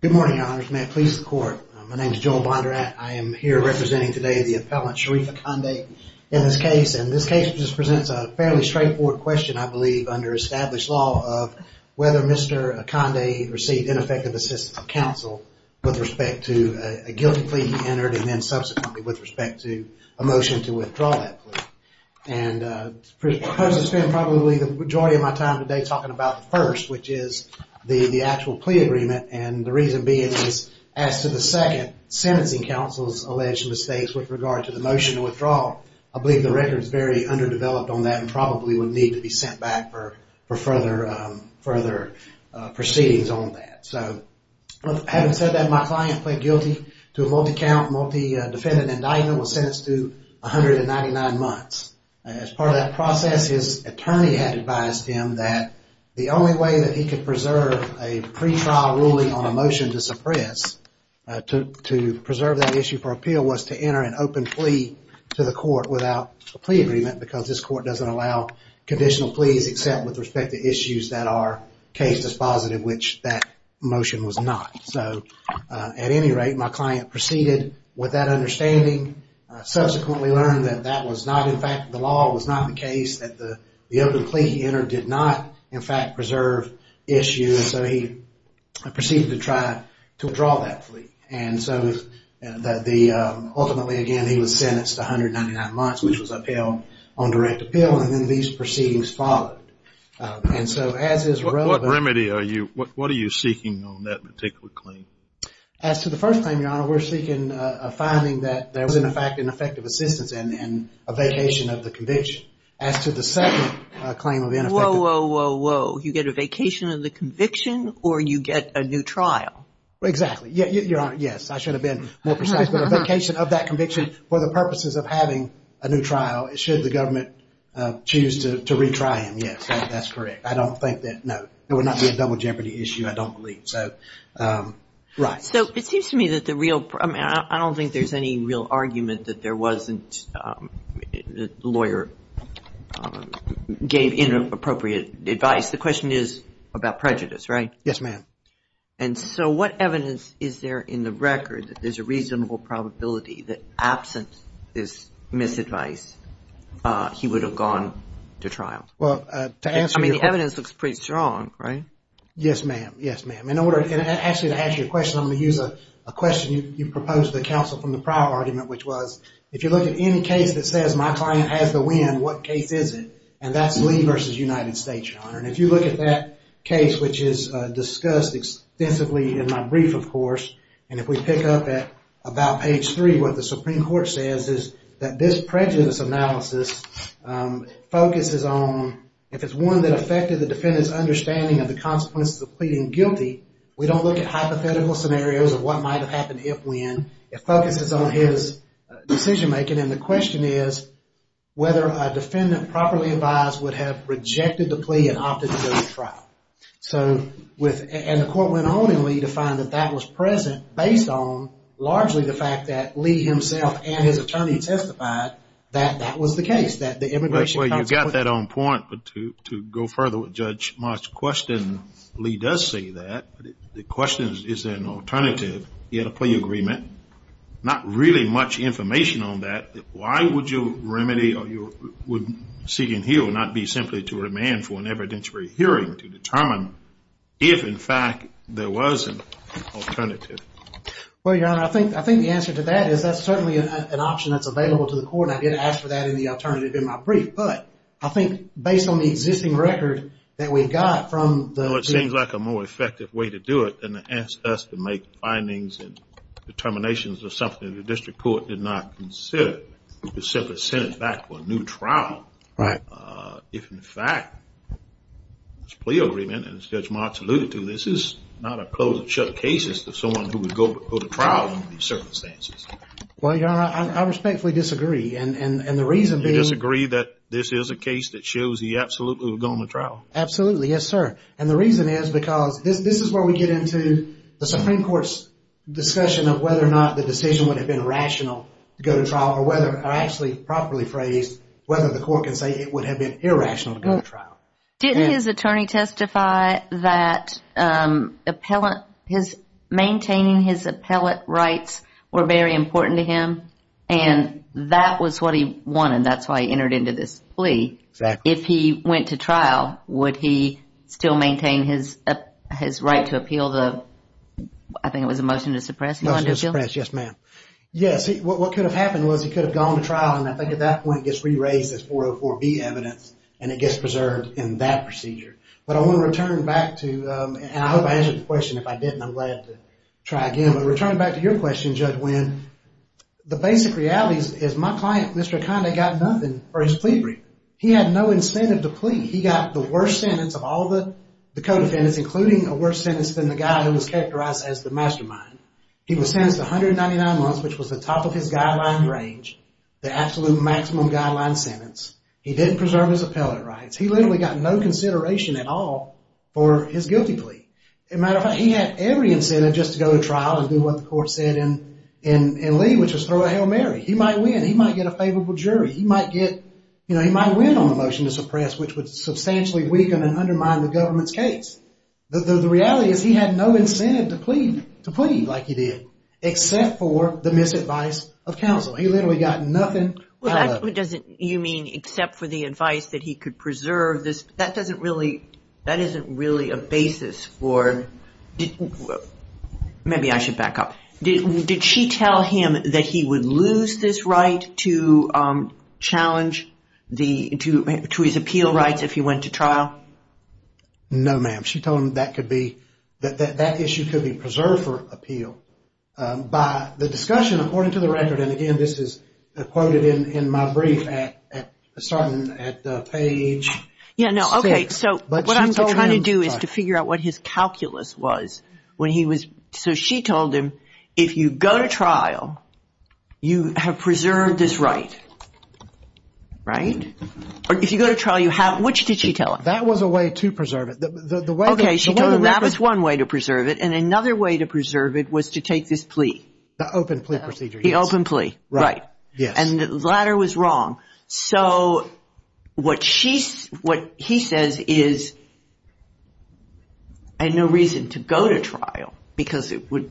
Good morning, your honors. May it please the court. My name is Joel Bondurant. I am here representing today the appellant Sherif Akande in this case, and this case just presents a fairly straightforward question, I believe, under established law of whether Mr. Akande received ineffective assistance of counsel with respect to a guilty plea he entered and then subsequently with respect to a motion to withdraw that plea. And I'm supposed to spend probably the majority of my time today talking about the first, which is the actual plea agreement, and the reason being is as to the second sentencing counsel's alleged mistakes with regard to the motion to withdraw, I believe the record is very underdeveloped on that and probably would need to be sent back for further proceedings on that. So having said that, my client pled guilty to a multi-count, multi-defendant indictment, was sentenced to 199 months. As part of that process, his attorney had advised him that the only way that he could preserve a pretrial ruling on a motion to suppress, to preserve that issue for appeal was to enter an open plea to the court without a plea agreement because this court doesn't allow conditional pleas except with respect to issues that are case dispositive, which that motion was not. So at any rate, my client proceeded with that understanding, subsequently learned that that was not in fact, the law was not the case, that the open plea he entered did not in fact preserve issues, so he proceeded to try to withdraw that plea. And so the, ultimately again, he was sentenced to 199 months, which was upheld on direct appeal and then these proceedings followed. And so as is relevant... What remedy are you, what are you seeking on that particular claim? As to the first claim, Your Honor, we're seeking a finding that there was in effect an effective assistance and a vacation of the conviction. As to the second claim of ineffective... Whoa, whoa, whoa, whoa. You get a vacation of the conviction or you get a new trial? Exactly. Your Honor, yes, I should have been more precise, but a vacation of that conviction for the purposes of having a new trial should the government choose to retry him, yes, that's correct. I don't think that, no, it would not be a double jeopardy issue, I don't believe, so, right. So it seems to me that the real, I mean, I don't think there's any real argument that there wasn't, the lawyer gave inappropriate advice. The question is about prejudice, right? Yes, ma'am. And so what evidence is there in the record that there's a reasonable probability that absent this misadvice, he would have gone to trial? Well, to answer your... I mean, the evidence looks pretty strong, right? Yes, ma'am, yes, ma'am. In order, actually, to answer your question, I'm going to use a question you proposed to the counsel from the prior argument, which was, if you look at any case that says my client has the win, what case is it? And that's Lee versus United States, Your Honor. And if you look at that case, which is discussed extensively in my brief, of course, and if we pick up at about page three, what the Supreme Court says is that this prejudice analysis focuses on, if it's one that affected the defendant's understanding of the consequences of pleading guilty, we don't look at hypothetical scenarios of what might have happened if, when. It focuses on his decision making, and the question is whether a defendant properly advised would have rejected the plea and opted to go to trial. So, with... And the court went on in Lee to find that that was present based on, largely, the fact that Lee himself and his attorney testified that that was the case, that the immigration counsel... Well, you got that on point, but to go further with Judge Marsh's question, Lee does say that. The question is, is there an alternative? He had a plea agreement. Not really much information on that. Why would you remedy, or you would seek and heal, and not be simply to remand for an evidentiary hearing to determine if, in fact, there was an alternative? Well, Your Honor, I think the answer to that is that's certainly an option that's available to the court, and I did ask for that in the alternative in my brief. But, I think, based on the existing record that we got from the... Well, it seems like a more effective way to do it than to ask us to make findings and to consider, to simply send it back for a new trial. Right. If, in fact, there's a plea agreement, and as Judge Marsh alluded to, this is not a closed and shut case as to someone who would go to trial under these circumstances. Well, Your Honor, I respectfully disagree, and the reason being... You disagree that this is a case that shows he absolutely would go on the trial? Absolutely, yes, sir. And the reason is because this is where we get into the Supreme Court's discussion of whether or not the decision would have been rational to go to trial, or whether, or actually, properly phrased, whether the court can say it would have been irrational to go to trial. Didn't his attorney testify that maintaining his appellate rights were very important to him, and that was what he wanted, that's why he entered into this plea? Exactly. If he went to trial, would he still maintain his right to appeal the, I think it was a Yes, what could have happened was he could have gone to trial, and I think at that point it gets re-raised as 404B evidence, and it gets preserved in that procedure. But I want to return back to, and I hope I answered the question, if I didn't, I'm glad to try again. But returning back to your question, Judge Wynn, the basic reality is my client, Mr. Akande, got nothing for his plea agreement. He had no incentive to plea. He got the worst sentence of all the co-defendants, including a worse sentence than the guy who He was sentenced to 199 months, which was the top of his guideline range, the absolute maximum guideline sentence. He didn't preserve his appellate rights. He literally got no consideration at all for his guilty plea. As a matter of fact, he had every incentive just to go to trial and do what the court said in Lee, which was throw a Hail Mary. He might win, he might get a favorable jury. He might get, you know, he might win on the motion to suppress, which would substantially weaken and undermine the government's case. The reality is he had no incentive to plead, to plead like he did, except for the misadvice of counsel. He literally got nothing. Well, that doesn't, you mean, except for the advice that he could preserve this, that doesn't really, that isn't really a basis for, maybe I should back up. Did she tell him that he would lose this right to challenge the, to his appeal rights if he went to trial? No, ma'am. She told him that could be, that issue could be preserved for appeal by the discussion, according to the record, and again, this is quoted in my brief at page six. Yeah, no, okay. So, what I'm trying to do is to figure out what his calculus was when he was, so she told him, if you go to trial, you have preserved this right, right? Or if you go to trial, you have, which did she tell him? That was a way to preserve it. Okay, she told him that was one way to preserve it, and another way to preserve it was to take this plea. The open plea procedure. The open plea, right. Yes. And the latter was wrong. So, what she, what he says is, I had no reason to go to trial because it would,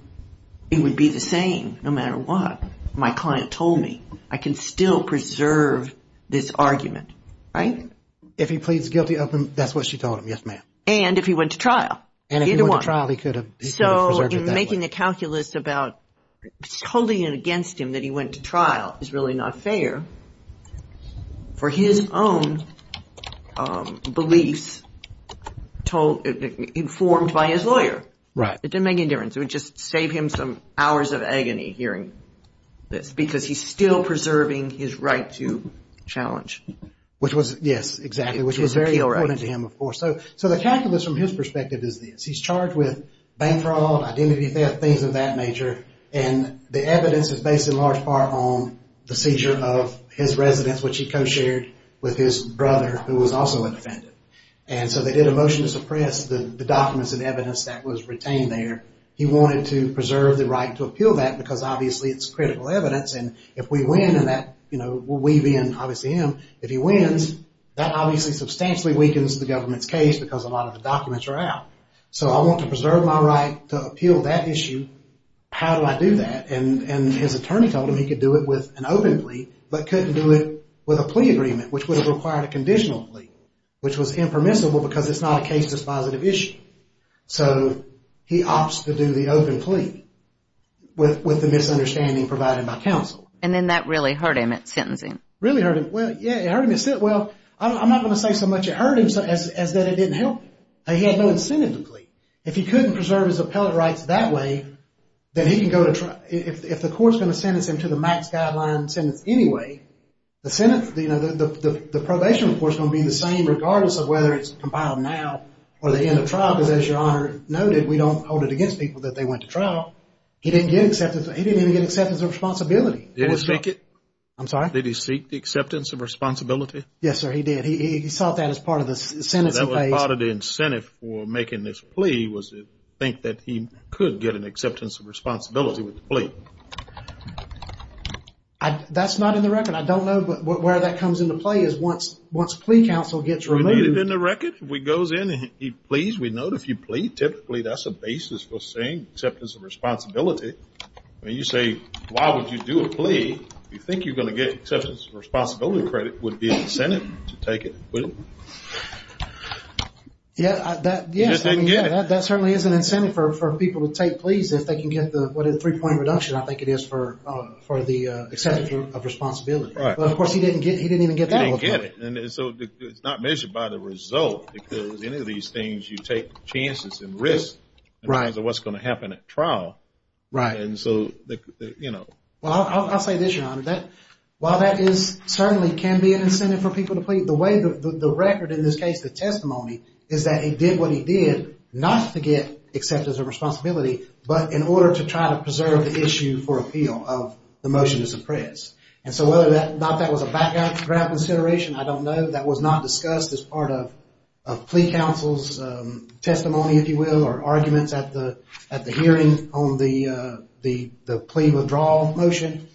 it would be the same no matter what. My client told me, I can still preserve this argument, right? If he pleads guilty, open, that's what she told him, yes, ma'am. And if he went to trial. And if he went to trial, he could have preserved it that way. So, in making the calculus about, holding it against him that he went to trial is really not fair for his own beliefs told, informed by his lawyer. Right. It didn't make any difference. It would just save him some hours of agony hearing this because he's still preserving his right to challenge. Which was, yes, exactly, which was very important to him, of course. So, the calculus from his perspective is this. He's charged with bank fraud, identity theft, things of that nature, and the evidence is based in large part on the seizure of his residence, which he co-shared with his brother who was also an offender. And so, they did a motion to suppress the documents and evidence that was retained there. He wanted to preserve the right to appeal that because obviously it's critical evidence and if we win, and that, you know, we being obviously him, if he wins, that obviously substantially weakens the government's case because a lot of the documents are out. So, I want to preserve my right to appeal that issue. How do I do that? And his attorney told him he could do it with an open plea, but couldn't do it with a plea agreement which would have required a conditional plea. Which was impermissible because it's not a case dispositive issue. So, he opts to do the open plea with the misunderstanding provided by counsel. And then that really hurt him at sentencing. Really hurt him? Well, yeah, it hurt him. Well, I'm not going to say so much it hurt him as that it didn't help him. He had no incentive to plead. If he couldn't preserve his appellate rights that way, then he can go to trial. If the court's going to sentence him to the max guideline sentence anyway, the Senate, you know, the probation report's going to be the same regardless of whether it's compiled now or the end of trial, because as your Honor noted, we don't hold it against people that they went to trial. He didn't get acceptance. He didn't even get acceptance of responsibility. Did he seek it? I'm sorry? Did he seek acceptance of responsibility? Yes, sir, he did. He sought that as part of the sentencing phase. That was part of the incentive for making this plea was to think that he could get an acceptance of responsibility with the plea. That's not in the record. I don't know where that comes into play is once plea counsel gets removed. We need it in the record? If he goes in and he pleads, we know if you plead, typically that's a basis for saying acceptance of responsibility. When you say, why would you do a plea, you think you're going to get acceptance of responsibility credit would be incentive to take it, wouldn't it? Yeah, that certainly is an incentive for people to take pleas if they can get what is a three-point reduction, I think it is, for the acceptance of responsibility, but of course, he didn't get that. He didn't get it. And so, it's not measured by the result because any of these things you take chances and risk in terms of what's going to happen at trial. Right. And so, you know. Well, I'll say this, Your Honor, that while that certainly can be an incentive for people to plead, the record in this case, the testimony, is that he did what he did not to get acceptance of responsibility, but in order to try to preserve the issue for appeal of the motion to suppress. And so, whether or not that was a background consideration, I don't know. That was not discussed as part of plea counsel's testimony, if you will, or arguments at the hearing on the plea withdrawal motion.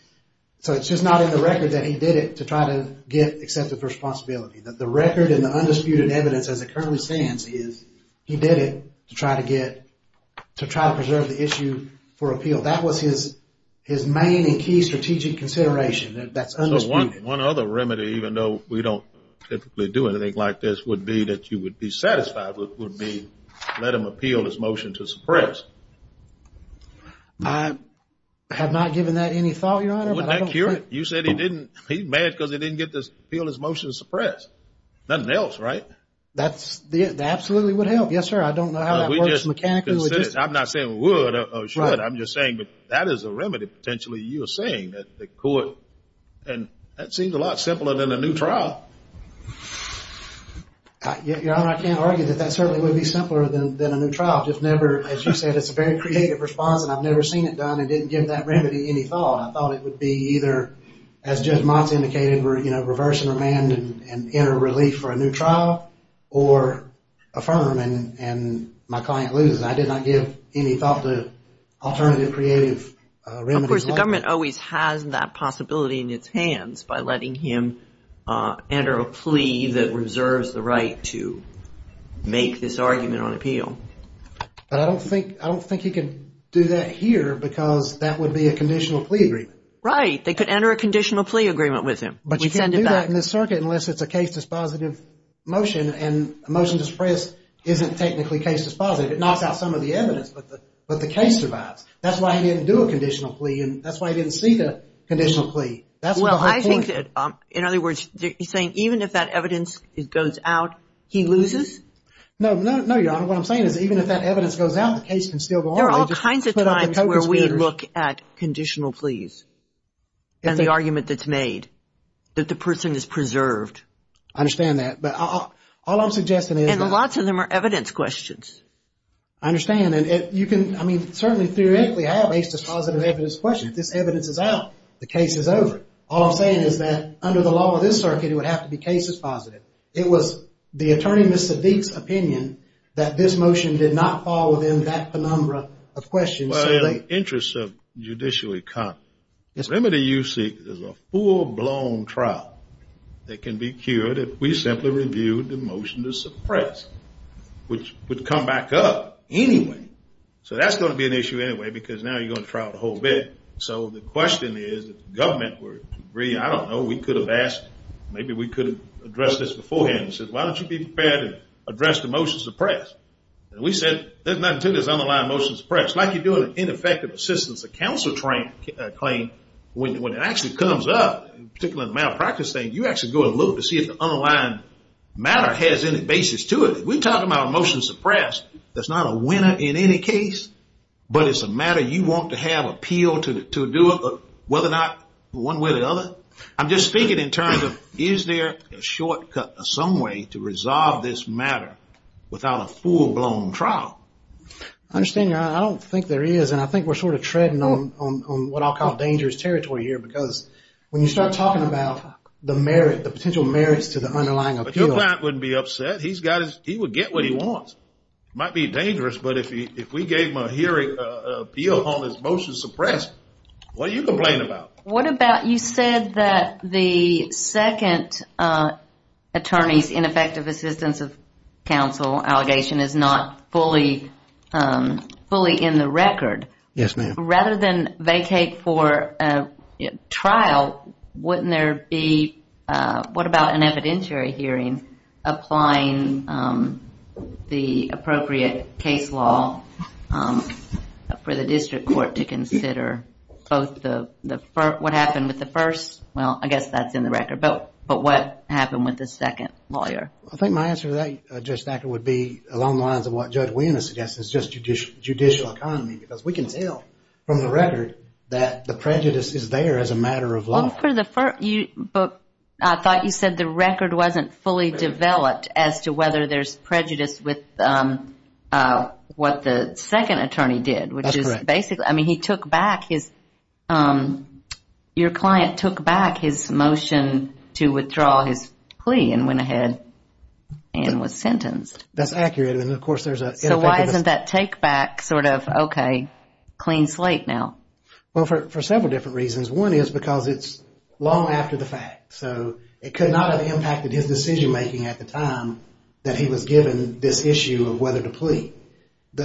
So, it's just not in the record that he did it to try to get acceptance of responsibility. The record and the undisputed evidence as it currently stands is he did it to try to get, to try to preserve the issue for appeal. So, that was his main and key strategic consideration. That's undisputed. So, one other remedy, even though we don't typically do anything like this, would be that you would be satisfied with, would be let him appeal his motion to suppress. I have not given that any thought, Your Honor, but I don't think. You said he didn't. He's mad because he didn't get to appeal his motion to suppress. Nothing else, right? That absolutely would help, yes, sir. I don't know how that works mechanically. I'm not saying would or should. I'm just saying that that is a remedy, potentially, you're saying that the court, and that seems a lot simpler than a new trial. Your Honor, I can't argue that that certainly would be simpler than a new trial. Just never, as you said, it's a very creative response, and I've never seen it done and didn't give that remedy any thought. I thought it would be either, as Judge Motz indicated, reversing remand and enter relief for a new trial, or affirm and my client loses. I did not give any thought to alternative creative remedies. Of course, the government always has that possibility in its hands by letting him enter a plea that reserves the right to make this argument on appeal. But I don't think he could do that here because that would be a conditional plea agreement. Right. They could enter a conditional plea agreement with him. But you can't do that in this circuit unless it's a case dispositive motion, and a motion to suppress isn't technically case dispositive. It knocks out some of the evidence, but the case survives. That's why he didn't do a conditional plea, and that's why he didn't see the conditional plea. That's the whole point. Well, I think that, in other words, you're saying even if that evidence goes out, he loses? No, Your Honor, what I'm saying is even if that evidence goes out, the case can still go on. There are all kinds of times where we look at conditional pleas and the argument that's made that the person is preserved. I understand that. But all I'm suggesting is that... And lots of them are evidence questions. I understand. And you can, I mean, certainly theoretically have a dispositive evidence question. If this evidence is out, the case is over. All I'm saying is that under the law of this circuit, it would have to be case dispositive. It was the Attorney, Mr. Deek's, opinion that this motion did not fall within that penumbra of questions. Well, in the interests of judicial economy, Remedy-U-Seek is a full-blown trial that can be cured if we simply reviewed the motion to suppress, which would come back up anyway. So that's going to be an issue anyway, because now you're going to trial the whole bit. So the question is, if the government were to agree, I don't know, we could have asked, maybe we could have addressed this beforehand and said, why don't you be prepared to address the motion to suppress? And we said, there's nothing to this underlying motion to suppress. It's like you're doing an ineffective assistance, a counsel claim, when it actually comes up, particularly in the malpractice thing, you actually go and look to see if the underlying matter has any basis to it. We're talking about a motion to suppress. That's not a winner in any case, but it's a matter you want to have appeal to do it, whether or not one way or the other. I'm just speaking in terms of, is there a shortcut, some way to resolve this matter without a full-blown trial? I understand you're, I don't think there is, and I think we're sort of treading on what I'll call dangerous territory here, because when you start talking about the merit, the potential merits to the underlying appeal. But your client wouldn't be upset. He's got his, he would get what he wants. Might be dangerous, but if we gave him a hearing appeal on his motion to suppress, what are you complaining about? What about, you said that the second attorney's ineffective assistance of counsel allegation is not fully, fully in the record. Yes, ma'am. Rather than vacate for a trial, wouldn't there be, what about an evidentiary hearing applying the appropriate case law for the district court to consider both the, what happened with the first, well, I guess that's in the record, but what happened with the second lawyer? I think my answer to that, Judge Thacker, would be along the lines of what Judge Williams suggested is just judicial economy, because we can tell from the record that the prejudice is there as a matter of law. Well, for the first, but I thought you said the record wasn't fully developed as to whether there's prejudice with what the second attorney did, which is basically, I mean, he took back his, your client took back his motion to withdraw his plea and went ahead and was sentenced. That's accurate. And of course, there's a- So why isn't that take back sort of, okay, clean slate now? Well, for several different reasons. One is because it's long after the fact. So it could not have impacted his decision making at the time that he was given this issue of whether to plea. And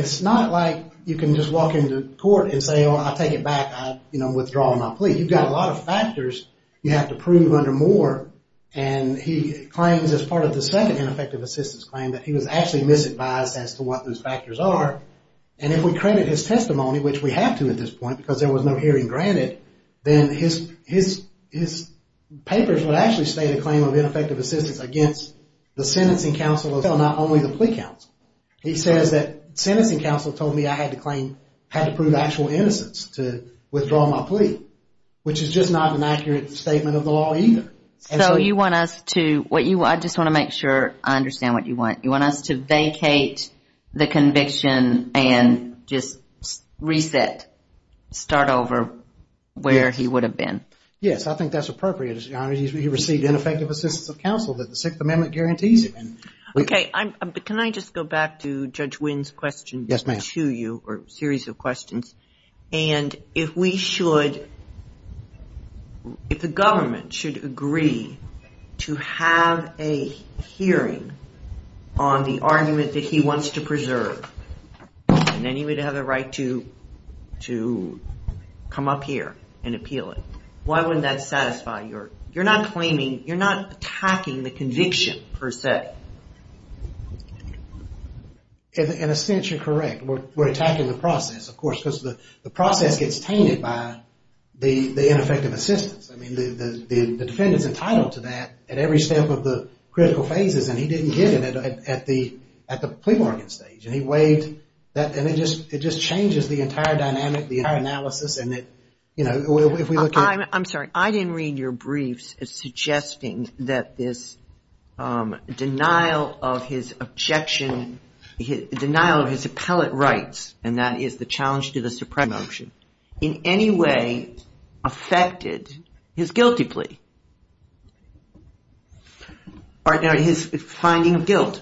it's not like you can just walk into court and say, oh, I'll take it back, I'm withdrawing my plea. You've got a lot of factors you have to prove under Moore. And he claims as part of the second ineffective assistance claim that he was actually misadvised as to what those factors are. And if we credit his testimony, which we have to at this point, because there was no hearing granted, then his papers would actually state a claim of ineffective assistance against the sentencing counsel, not only the plea counsel. He says that sentencing counsel told me I had to claim, had to prove actual innocence to withdraw my plea, which is just not an accurate statement of the law either. So you want us to, I just want to make sure I understand what you want. You want us to vacate the conviction and just reset, start over where he would have been? Yes, I think that's appropriate, Your Honor. He received ineffective assistance of counsel that the Sixth Amendment guarantees him. Okay, but can I just go back to Judge Wynn's question to you, or a series of questions. And if we should, if the government should agree to have a hearing on the argument that he wants to preserve, then he would have the right to come up here and appeal it. Why wouldn't that satisfy your, you're not claiming, you're not attacking the conviction per se. In a sense, you're correct. We're attacking the process, of course, because the process gets tainted by the ineffective assistance. I mean, the defendant's entitled to that at every step of the critical phases, and he didn't get it at the plea bargain stage. And he waived that, and it just changes the entire dynamic, the entire analysis, and that, you know, if we look at... I'm sorry, I didn't read your briefs suggesting that this denial of his objection, denial of his appellate rights, and that is the challenge to the Supreme Court motion, in any way affected his guilty plea, or his finding of guilt?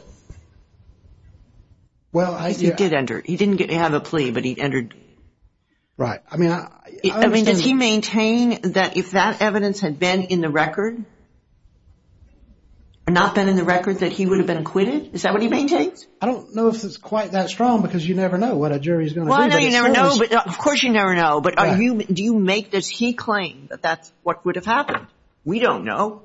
Well I... He did enter. He didn't have a plea, but he entered. Right. I mean, I understand... I mean, does he maintain that if that evidence had been in the record, or not been in the record, that he would have been acquitted? Is that what he maintains? I don't know if it's quite that strong, because you never know what a jury's going to do. Well, I know you never know, but of course you never know, but do you make this, he claimed that that's what would have happened? We don't know.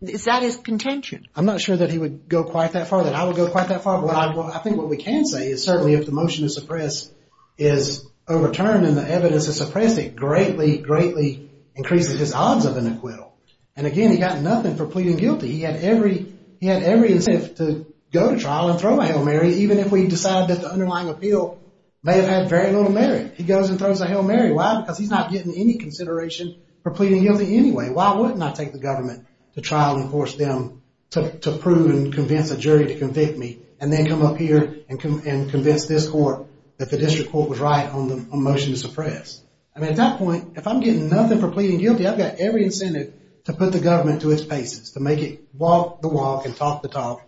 Is that his contention? I'm not sure that he would go quite that far, that I would go quite that far, but I think what we can say is certainly if the motion is suppressed, is overturned, and the evidence is suppressed, it greatly, greatly increases his odds of an acquittal. And again, he got nothing for pleading guilty. He had every incentive to go to trial and throw a Hail Mary, even if we decided that the underlying appeal may have had very little merit. He goes and throws a Hail Mary. Why? Because he's not getting any consideration for pleading guilty anyway. Why wouldn't I take the government to trial and force them to prove and convince a jury to convict me, and then come up here and convince this court that the district court was right on the motion to suppress? I mean, at that point, if I'm getting nothing for pleading guilty, I've got every incentive to put the government to its paces, to make it walk the walk and talk the talk,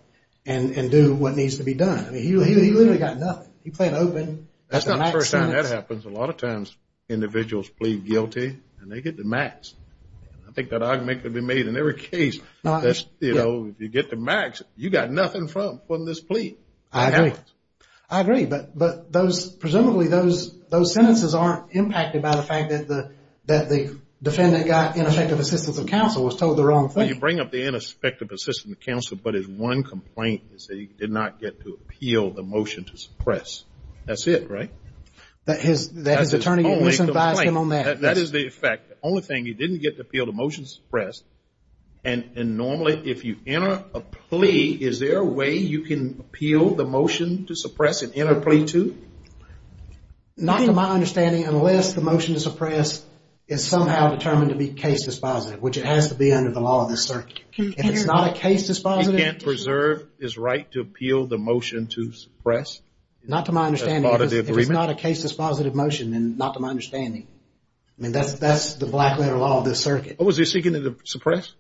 and do what needs to be done. I mean, he literally got nothing. He pled open. That's not the first time that happens. A lot of times, individuals plead guilty, and they get the max. I think that argument could be made in every case. You know, if you get the max, you got nothing from this plea. I agree. I agree. But presumably, those sentences aren't impacted by the fact that the defendant got ineffective assistance of counsel, was told the wrong thing. Well, you bring up the ineffective assistance of counsel, but his one complaint is that he did not get to appeal the motion to suppress. That's it, right? That's his only complaint. That is the effect. The only thing, he didn't get to appeal the motion to suppress, and normally, if you enter a plea, is there a way you can appeal the motion to suppress and enter a plea to? Not to my understanding, unless the motion to suppress is somehow determined to be case dispositive, which it has to be under the law of the circuit. If it's not a case dispositive, He can't preserve his right to appeal the motion to suppress? Not to my understanding. That's part of the agreement? If it's not a case dispositive motion, then not to my understanding. I mean, that's the black letter law of this circuit. What was he seeking to suppress?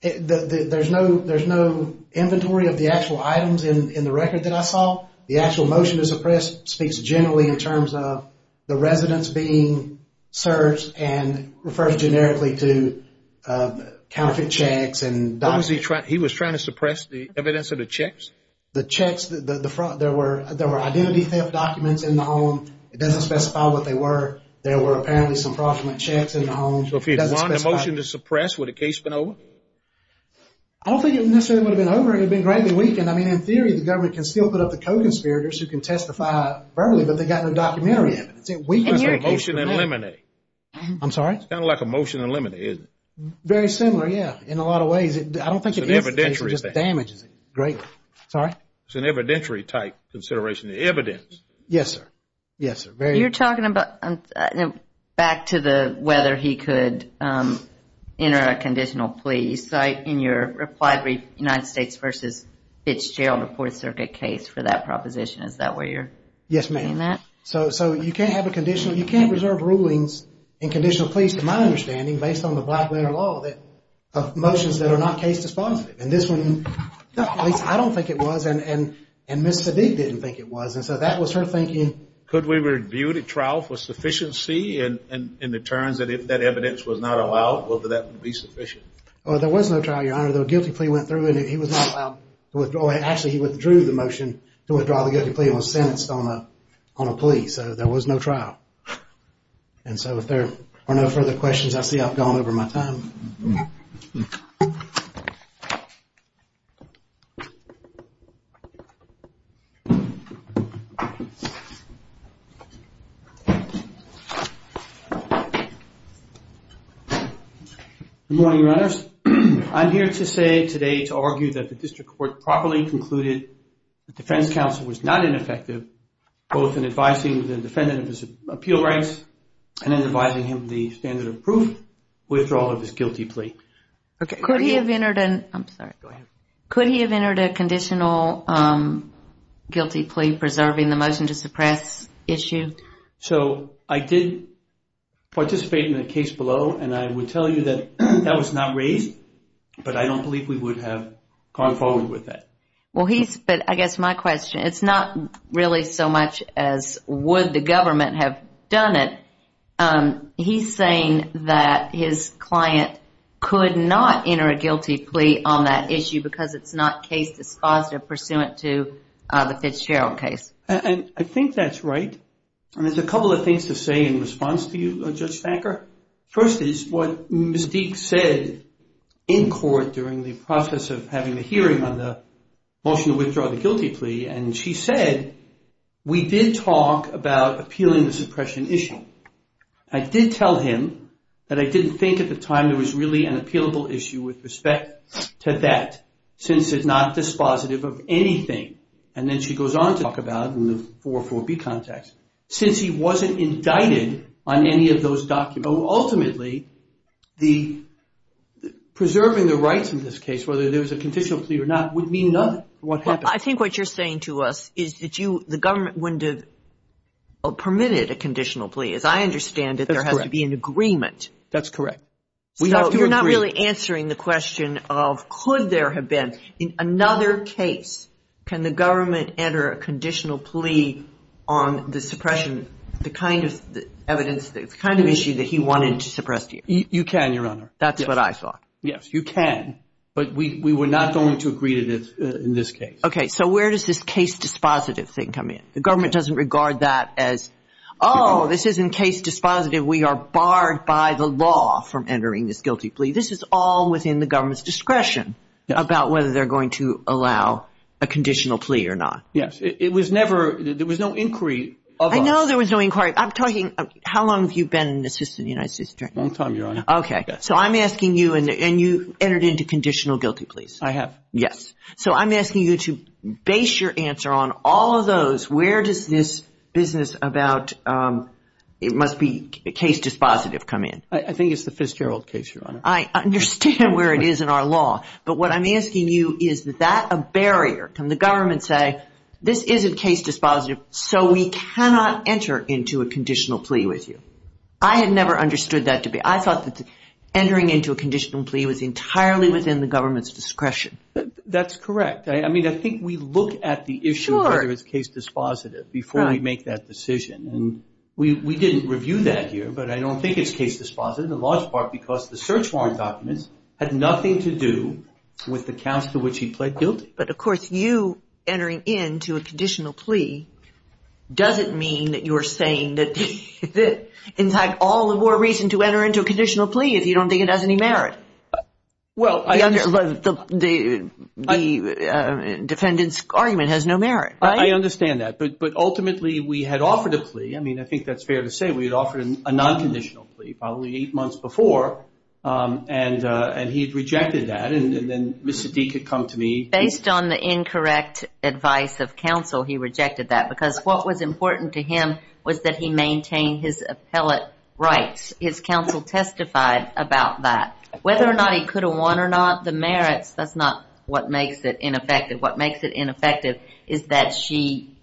There's no inventory of the actual items in the record that I saw. The actual motion to suppress speaks generally in terms of the residence being searched and refers generically to counterfeit checks and documents. He was trying to suppress the evidence of the checks? The checks, the front, there were identity theft documents in the home. It doesn't specify what they were. There were apparently some fraudulent checks in the home. So if he'd won the motion to suppress, would the case have been over? I don't think it necessarily would have been over. It would have been greatly weakened. I mean, in theory, the government can still put up the code conspirators who can testify verbally, but they've got no documentary evidence. It weakens the motion. It's a motion in limine. I'm sorry? It's kind of like a motion in limine, isn't it? Very similar, yeah. In a lot of ways. I don't think it is. It's an evidentiary thing. It just damages it greatly. Sorry? It's an evidentiary type consideration. The evidence. Yes, sir. Yes, sir. Very. You're talking about, back to the whether he could enter a conditional plea. So in your reply brief, United States v. Fitzgerald, a Fourth Circuit case for that proposition. Is that where you're seeing that? Yes, ma'am. So you can't have a conditional. You can't reserve rulings in conditional pleas, to my understanding, based on the Blackwinter law, of motions that are not case dispositive. And this one, at least I don't think it was, and Ms. Sedig didn't think it was, and so that was her thinking. Could we review the trial for sufficiency in the terms that if that evidence was not allowed, whether that would be sufficient? Well, there was no trial, Your Honor. The guilty plea went through, and he was not allowed to withdraw it. So there was no trial. And so if there are no further questions, I see I've gone over my time. Good morning, Your Honors. I'm here to say today, to argue that the district court properly concluded that defense counsel was not ineffective, both in advising the defendant of his appeal rights and in advising him of the standard of proof withdrawal of his guilty plea. Could he have entered a conditional guilty plea preserving the motion to suppress issue? So I did participate in the case below, and I would tell you that that was not raised, but I don't believe we would have gone forward with that. Well, he's, but I guess my question, it's not really so much as would the government have done it. He's saying that his client could not enter a guilty plea on that issue because it's not case dispositive pursuant to the Fitzgerald case. And I think that's right. And there's a couple of things to say in response to you, Judge Thacker. First is what Ms. Deek said in court during the process of having the hearing on the motion to withdraw the guilty plea. And she said, we did talk about appealing the suppression issue. I did tell him that I didn't think at the time there was really an appealable issue with respect to that, since it's not dispositive of anything. And then she goes on to talk about in the 404B context, since he wasn't indicted on any of those documents. Ultimately, preserving the rights in this case, whether there was a conditional plea or not, would mean nothing for what happened. Well, I think what you're saying to us is that the government wouldn't have permitted a conditional plea, as I understand it. That's correct. There has to be an agreement. That's correct. We have to agree. So you're not really answering the question of could there have been. In another case, can the government enter a conditional plea on the suppression, the kind of evidence, the kind of issue that he wanted to suppress here? You can, Your Honor. That's what I thought. Yes, you can. But we were not going to agree to this in this case. Okay. So where does this case dispositive thing come in? The government doesn't regard that as, oh, this isn't case dispositive. We are barred by the law from entering this guilty plea. This is all within the government's discretion about whether they're going to allow a conditional plea or not. Yes. It was never, there was no inquiry of us. No, there was no inquiry. I'm talking, how long have you been an assistant to the United States Attorney? A long time, Your Honor. Okay. So I'm asking you, and you entered into conditional guilty pleas. I have. Yes. So I'm asking you to base your answer on all of those. Where does this business about it must be case dispositive come in? I think it's the Fitzgerald case, Your Honor. I understand where it is in our law. But what I'm asking you, is that a barrier? Can the government say, this isn't case dispositive, so we cannot enter into a conditional plea with you? I had never understood that to be. I thought that entering into a conditional plea was entirely within the government's discretion. That's correct. I mean, I think we look at the issue of whether it's case dispositive before we make that decision. And we didn't review that here, but I don't think it's case dispositive, in large part because the search warrant documents had nothing to do with the counts to which he pled guilty. But, of course, you entering into a conditional plea doesn't mean that you're saying that, in fact, all the more reason to enter into a conditional plea if you don't think it has any merit. The defendant's argument has no merit. I understand that. But ultimately, we had offered a plea. I mean, I think that's fair to say. We had offered a non-conditional plea probably eight months before, and he had rejected that. Based on the incorrect advice of counsel, he rejected that, because what was important to him was that he maintain his appellate rights. His counsel testified about that. Whether or not he could have won or not, the merits, that's not what makes it ineffective. What makes it ineffective is that she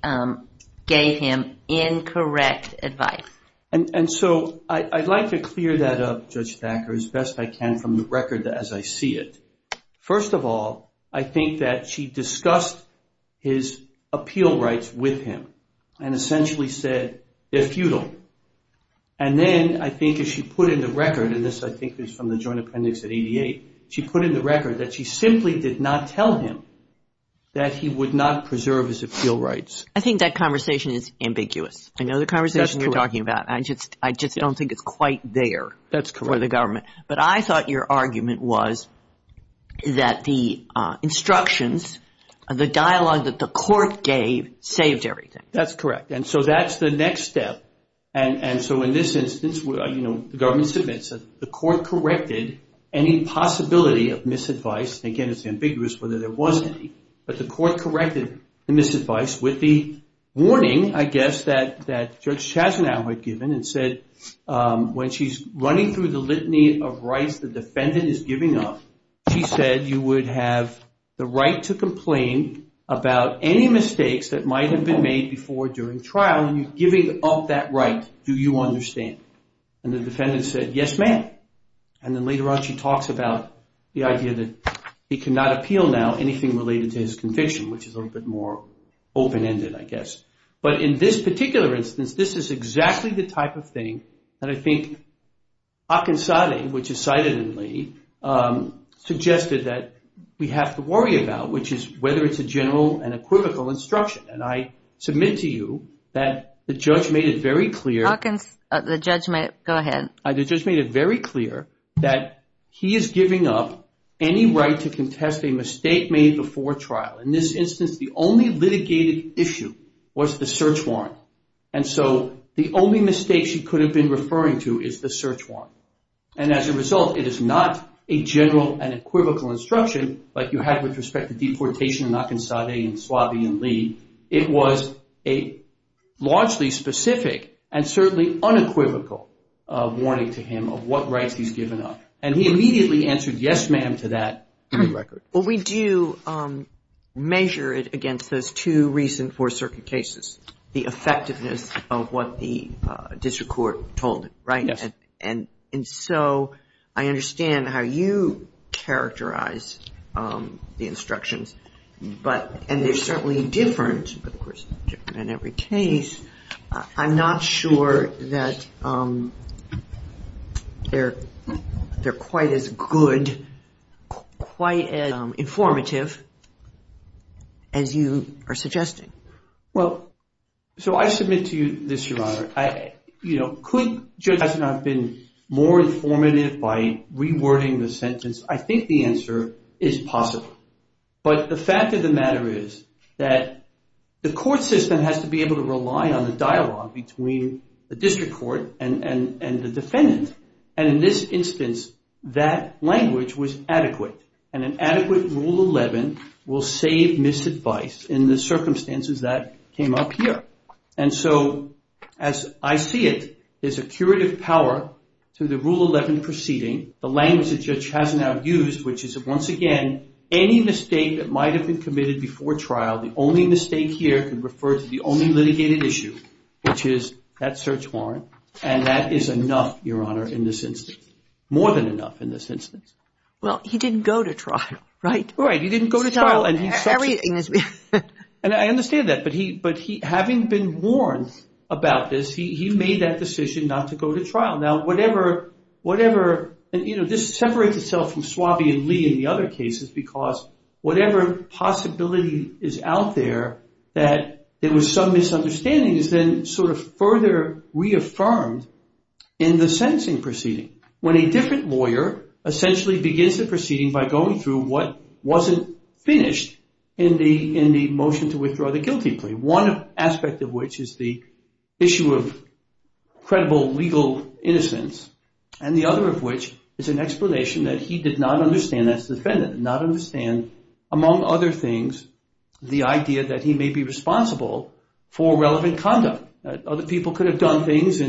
gave him incorrect advice. And so I'd like to clear that up, Judge Thacker, as best I can from the record as I see it. First of all, I think that she discussed his appeal rights with him and essentially said they're futile. And then I think if she put in the record, and this I think is from the joint appendix at 88, she put in the record that she simply did not tell him that he would not preserve his appeal rights. I think that conversation is ambiguous. I know the conversation you're talking about. That's correct. I just don't think it's quite there for the government. That's correct. But I thought your argument was that the instructions, the dialogue that the court gave, saved everything. That's correct. And so that's the next step. And so in this instance, you know, the government submits it. The court corrected any possibility of misadvice. Again, it's ambiguous whether there was any. But the court corrected the misadvice with the warning, I guess, that Judge Chasnow had given and said when she's running through the litany of rights the defendant is giving up, she said you would have the right to complain about any mistakes that might have been made before during trial and you're giving up that right. Do you understand? And the defendant said, yes, ma'am. And then later on she talks about the idea that he cannot appeal now anything related to his conviction, which is a little bit more open-ended, I guess. But in this particular instance, this is exactly the type of thing that I think Akinsade, which is cited in Lee, suggested that we have to worry about, which is whether it's a general and a critical instruction. And I submit to you that the judge made it very clear. Go ahead. The judge made it very clear that he is giving up any right to contest a mistake made before trial. In this instance, the only litigated issue was the search warrant. And so the only mistake she could have been referring to is the search warrant. And as a result, it is not a general and equivocal instruction like you had with respect to deportation in Akinsade and Suave and Lee. It was a largely specific and certainly unequivocal warning to him of what rights he's given up. And he immediately answered, yes, ma'am, to that record. Well, we do measure it against those two recent Fourth Circuit cases, the effectiveness of what the district court told it, right? Yes. And so I understand how you characterize the instructions, and they're certainly different, of course, in every case. I'm not sure that they're quite as good, quite as informative as you are suggesting. Well, so I submit to you this, Your Honor. Could Judge Eisenhower have been more informative by rewording the sentence? I think the answer is possible. But the fact of the matter is that the court system has to be able to rely on the dialogue between the district court and the defendant. And in this instance, that language was adequate. And an adequate Rule 11 will save misadvice in the circumstances that came up here. And so as I see it, there's a curative power to the Rule 11 proceeding, the language that Judge Eisenhower used, which is, once again, any mistake that might have been committed before trial, the only mistake here can refer to the only litigated issue, which is that search warrant. And that is enough, Your Honor, in this instance, more than enough in this instance. Well, he didn't go to trial, right? Right. He didn't go to trial. And I understand that. But having been warned about this, he made that decision not to go to trial. Now, whatever – and, you know, this separates itself from Swabian Lee in the other cases because whatever possibility is out there that there was some misunderstanding is then sort of further reaffirmed in the sentencing proceeding, when a different lawyer essentially begins the proceeding by going through what wasn't finished in the motion to withdraw the guilty plea, one aspect of which is the issue of credible legal innocence, and the other of which is an explanation that he did not understand as the defendant, did not understand, among other things, the idea that he may be responsible for irrelevant conduct, that other people could have done things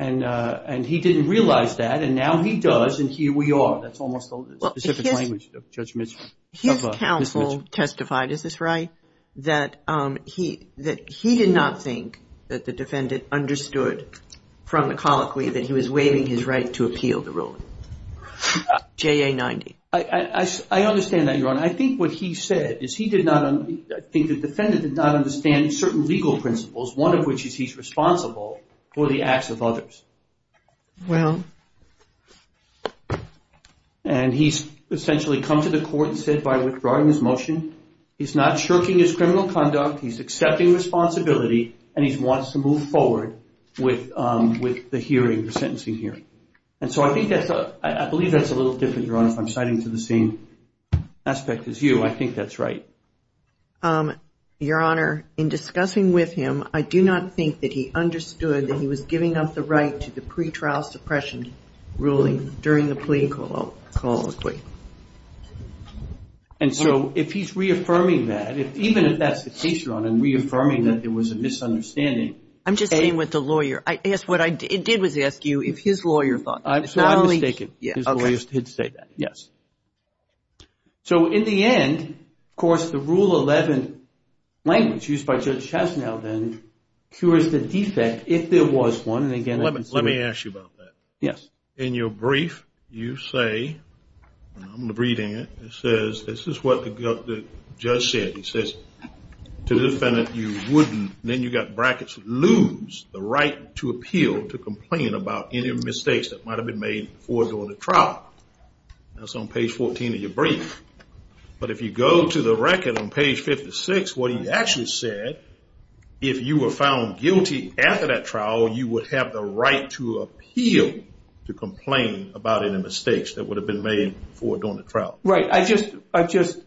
and he didn't realize that, and now he does and here we are. That's almost the specific language of Judge Mitchell. His counsel testified, is this right, that he did not think that the defendant understood from the colloquy that he was waiving his right to appeal the ruling, JA 90. I understand that, Your Honor. I think what he said is he did not – I think the defendant did not understand certain legal principles, one of which is he's responsible for the acts of others. Well. And he's essentially come to the court and said by withdrawing his motion, he's not shirking his criminal conduct, he's accepting responsibility, and he wants to move forward with the hearing, the sentencing hearing. And so I think that's – I believe that's a little different, Your Honor, if I'm citing to the same aspect as you. I think that's right. Your Honor, in discussing with him, I do not think that he understood that he was giving up the right to the pretrial suppression trial. And so if he's reaffirming that, even if that's the case, Your Honor, and reaffirming that there was a misunderstanding. I'm just saying with the lawyer. What I did was ask you if his lawyer thought that. So I'm mistaken. Okay. His lawyer did say that, yes. So in the end, of course, the Rule 11 language used by Judge Chastanel then cures the defect if there was one. Let me ask you about that. Yes. In your brief, you say – I'm going to read it. It says – this is what the judge said. He says, to the defendant, you wouldn't, then you've got brackets, lose the right to appeal to complain about any mistakes that might have been made before going to trial. That's on page 14 of your brief. But if you go to the record on page 56, what he actually said, if you were found guilty after that trial, you would have the right to appeal to complain about any mistakes that would have been made before going to trial. Right. I just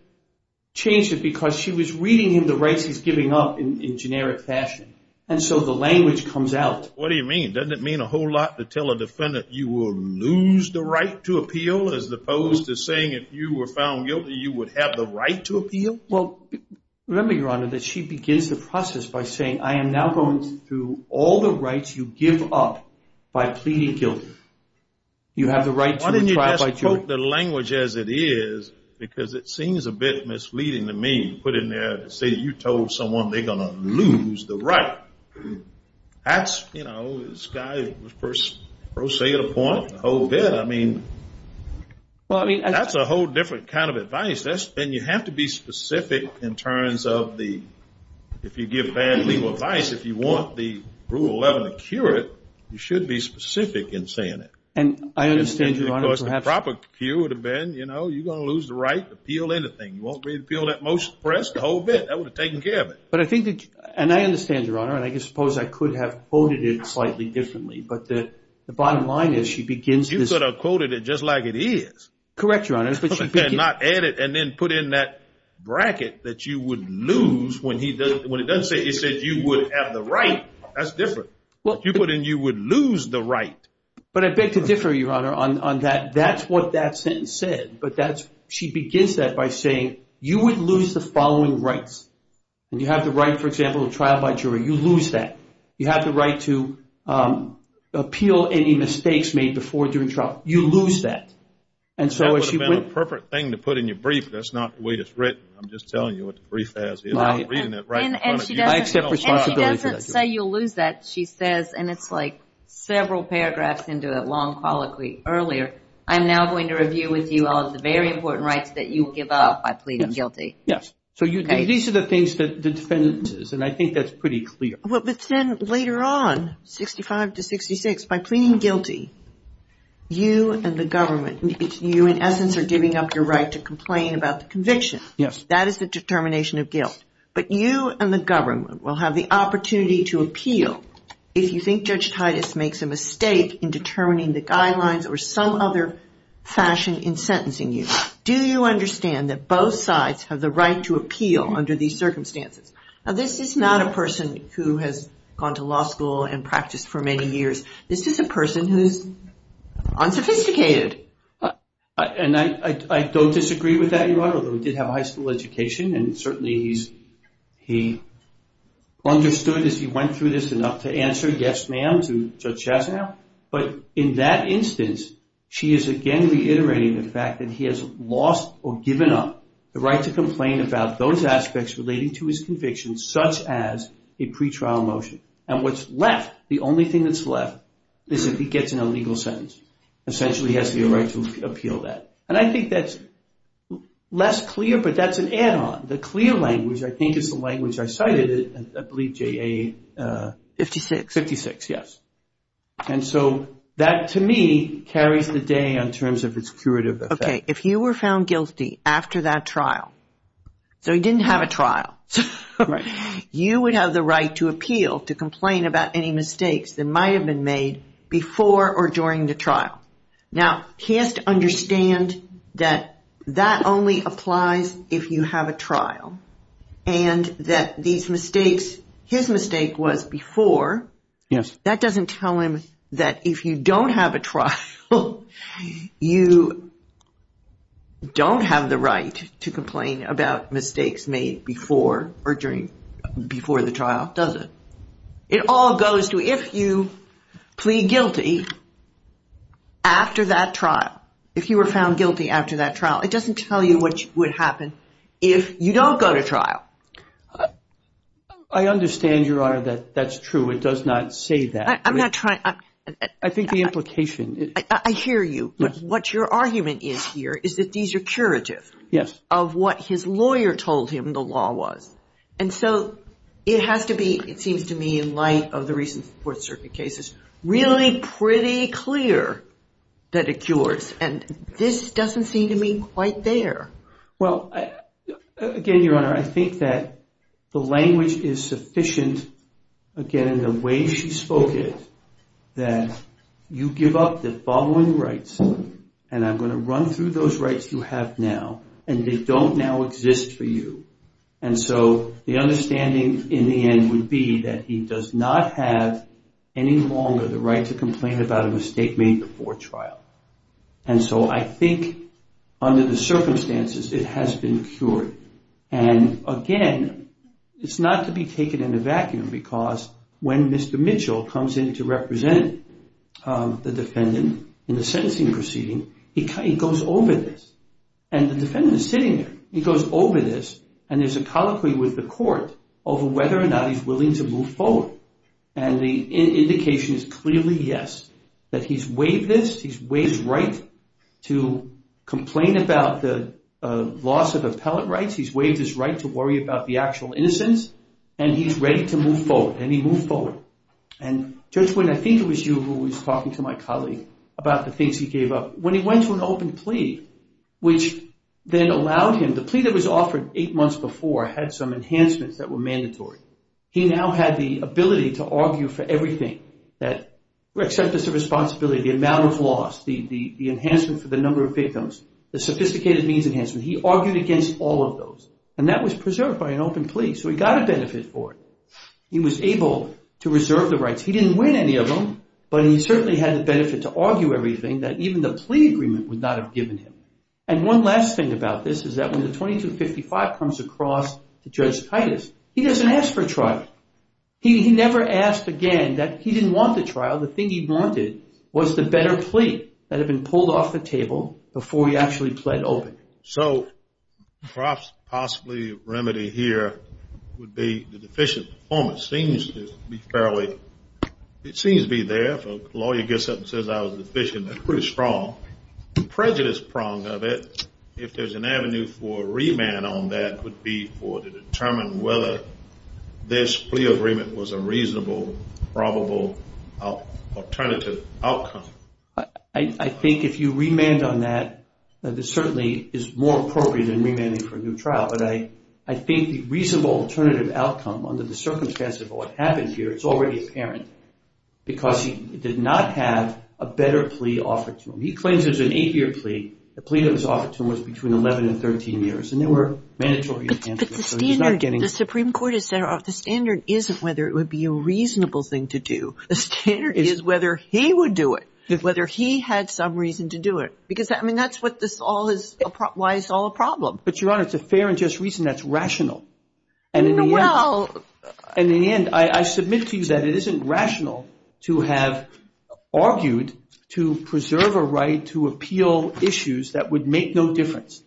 changed it because she was reading him the rights he's giving up in generic fashion, and so the language comes out. What do you mean? Doesn't it mean a whole lot to tell a defendant you will lose the right to appeal as opposed to saying if you were found guilty, you would have the right to appeal? Well, remember, Your Honor, that she begins the process by saying, I am now going through all the rights you give up by pleading guilty. You have the right to a trial by jury. Why didn't you just quote the language as it is because it seems a bit misleading to me to put in there and say you told someone they're going to lose the right. That's, you know, this guy was pro se at a point a whole bit. I mean, that's a whole different kind of advice. And you have to be specific in terms of if you give bad legal advice, if you want the Rule 11 to cure it, you should be specific in saying it. And I understand, Your Honor, perhaps. Because the proper cure would have been, you know, you're going to lose the right to appeal anything. You won't be able to appeal that most press the whole bit. That would have taken care of it. And I understand, Your Honor, and I suppose I could have quoted it slightly differently, but the bottom line is she begins this. You could have quoted it just like it is. Correct, Your Honor. And then put in that bracket that you would lose when it doesn't say you would have the right. That's different. If you put in you would lose the right. But I beg to differ, Your Honor, on that. That's what that sentence said. But she begins that by saying you would lose the following rights. And you have the right, for example, to trial by jury. You lose that. You have the right to appeal any mistakes made before during trial. You lose that. That would have been a perfect thing to put in your brief. That's not the way it's written. I'm just telling you what the brief says. I'm reading it right in front of you. I accept responsibility for that. And she doesn't say you'll lose that. She says, and it's like several paragraphs into a long colloquy earlier, I'm now going to review with you all of the very important rights that you will give up by pleading guilty. Yes. So these are the things that the defendant says, and I think that's pretty clear. But then later on, 65 to 66, by pleading guilty, you and the government, you in essence are giving up your right to complain about the conviction. Yes. That is the determination of guilt. But you and the government will have the opportunity to appeal if you think Judge Titus makes a mistake in determining the guidelines or some other fashion in sentencing you. Do you understand that both sides have the right to appeal under these circumstances? Now this is not a person who has gone to law school and practiced for many years. This is a person who is unsophisticated. And I don't disagree with that, Your Honor, although he did have a high school education and certainly he understood as he went through this enough to answer, yes, ma'am, to Judge Chasnow. But in that instance, she is again reiterating the fact that he has lost or given up the right to complain about those aspects relating to his convictions such as a pretrial motion. And what's left, the only thing that's left is if he gets an illegal sentence. Essentially he has the right to appeal that. And I think that's less clear, but that's an add-on. The clear language I think is the language I cited, I believe J.A. 56, yes. And so that to me carries the day in terms of its curative effect. Okay, if you were found guilty after that trial, so he didn't have a trial, you would have the right to appeal to complain about any mistakes that might have been made before or during the trial. Now he has to understand that that only applies if you have a trial and that these mistakes, his mistake was before. Yes. That doesn't tell him that if you don't have a trial, you don't have the right to complain about mistakes made before or during, before the trial, does it? It all goes to if you plead guilty after that trial, if you were found guilty after that trial, it doesn't tell you what would happen if you don't go to trial. I understand, Your Honor, that that's true. It does not say that. I'm not trying. I think the implication. I hear you. But what your argument is here is that these are curative. Yes. Of what his lawyer told him the law was. And so it has to be, it seems to me in light of the recent Fourth Circuit cases, really pretty clear that it cures. And this doesn't seem to me quite there. Well, again, Your Honor, I think that the language is sufficient, again, in the way she spoke it, that you give up the following rights, and I'm going to run through those rights you have now, and they don't now exist for you. And so the understanding in the end would be that he does not have any longer the right to complain about a mistake made before trial. And so I think under the circumstances it has been cured. And, again, it's not to be taken in a vacuum because when Mr. Mitchell comes in to represent the defendant in the sentencing proceeding, he goes over this, and the defendant is sitting there. He goes over this, and there's a colloquy with the court over whether or not he's willing to move forward. And the indication is clearly yes, that he's waived this. He's waived his right to complain about the loss of appellate rights. He's waived his right to worry about the actual innocence, and he's ready to move forward, and he moved forward. And, Judge Witten, I think it was you who was talking to my colleague about the things he gave up. When he went to an open plea, which then allowed him, the plea that was offered eight months before had some enhancements that were mandatory. He now had the ability to argue for everything, that acceptance of responsibility, the amount of loss, the enhancement for the number of victims, the sophisticated means enhancement. He argued against all of those, and that was preserved by an open plea, so he got a benefit for it. He was able to reserve the rights. He didn't win any of them, but he certainly had the benefit to argue everything that even the plea agreement would not have given him. And one last thing about this is that when the 2255 comes across to Judge Titus, he doesn't ask for a trial. He never asked again that he didn't want the trial. The thing he wanted was the better plea that had been pulled off the table before he actually pled open. So perhaps possibly a remedy here would be the deficient performance. It seems to be fairly, it seems to be there. If a lawyer gets up and says I was deficient, that's pretty strong. The prejudice prong of it, if there's an avenue for a remand on that, would be to determine whether this plea agreement was a reasonable, probable alternative outcome. I think if you remand on that, it certainly is more appropriate than remanding for a new trial. But I think the reasonable alternative outcome under the circumstances of what happened here is already apparent because he did not have a better plea offered to him. He claims there's an eight-year plea. The plea that was offered to him was between 11 and 13 years, and they were mandatory in Kansas. But the standard, the Supreme Court has said the standard isn't whether it would be a reasonable thing to do. The standard is whether he would do it, whether he had some reason to do it. Because, I mean, that's what this all is, why it's all a problem. But, Your Honor, it's a fair and just reason that's rational. And in the end, I submit to you that it isn't rational to have argued to preserve a right to appeal issues that would make no difference,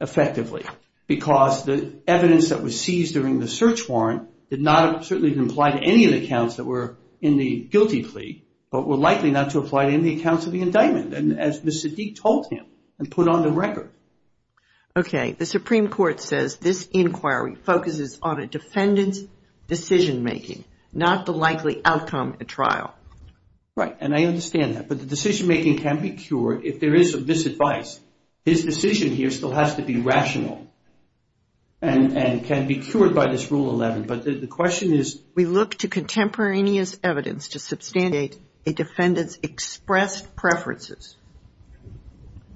effectively, because the evidence that was seized during the search warrant did not certainly apply to any of the accounts that were in the guilty plea, but were likely not to apply to any accounts of the indictment, as Ms. Siddique told him and put on the record. Okay, the Supreme Court says this inquiry focuses on a defendant's decision-making, not the likely outcome at trial. Right, and I understand that. But the decision-making can be cured if there is this advice. His decision here still has to be rational and can be cured by this Rule 11. But the question is... We look to contemporaneous evidence to substantiate a defendant's expressed preferences.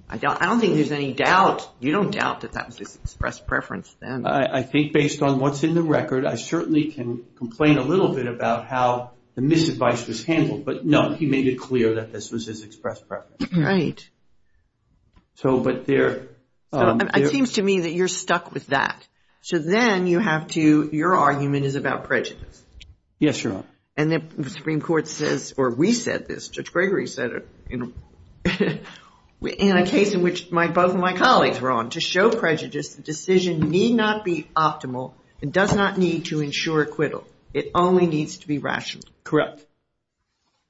I don't think there's any doubt. You don't doubt that that was his expressed preference then. I think based on what's in the record, I certainly can complain a little bit about how the misadvice was handled. But no, he made it clear that this was his expressed preference. Right. So, but there... It seems to me that you're stuck with that. So then you have to, your argument is about prejudice. Yes, Your Honor. And the Supreme Court says, or we said this, Judge Gregory said it in a case in which both of my colleagues were on. To show prejudice, the decision need not be optimal and does not need to ensure acquittal. It only needs to be rational. Correct.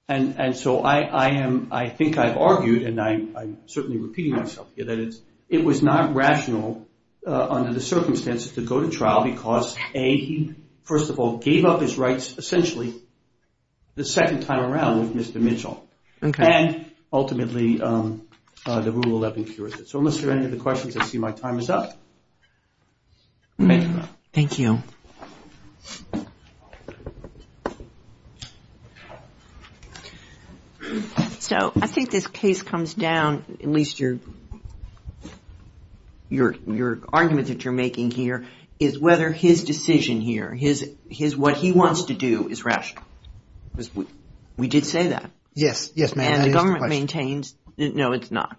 And so I think I've argued, and I'm certainly repeating myself here, that it was not rational under the circumstances to go to trial because A, he, first of all, gave up his rights essentially the second time around with Mr. Mitchell. Okay. And ultimately, the Rule 11 cures it. So unless there are any other questions, I see my time is up. Thank you, Your Honor. Thank you. So I think this case comes down, at least your argument that you're making here, is whether his decision here, what he wants to do is rational. We did say that. Yes, ma'am. And the government maintains, no, it's not.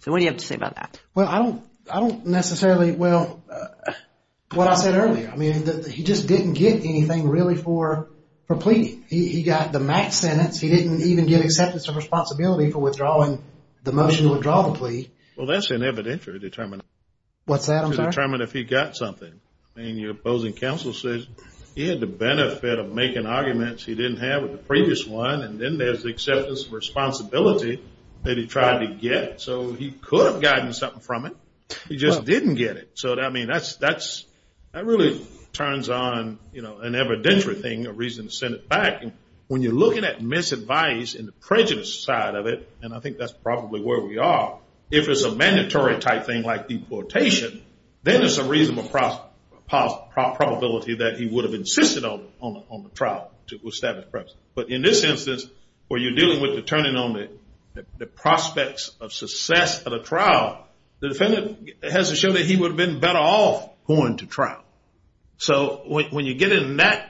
So what do you have to say about that? Well, I don't necessarily, well, what I said earlier. I mean, he just didn't get anything really for pleading. He got the max sentence. He didn't even get acceptance of responsibility for withdrawing the motion to withdraw the plea. Well, that's an evidentiary determination. What's that, I'm sorry? To determine if he got something. I mean, your opposing counsel says he had the benefit of making arguments he didn't have with the previous one, and then there's acceptance of responsibility that he tried to get. So he could have gotten something from it. He just didn't get it. So, I mean, that really turns on an evidentiary thing, a reason to send it back. And when you're looking at misadvice and the prejudice side of it, and I think that's probably where we are, if it's a mandatory type thing like deportation, then there's a reasonable probability that he would have insisted on the trial to establish preference. But in this instance, where you're dealing with the turning on the prospects of success at a trial, the defendant has to show that he would have been better off going to trial. So when you get in that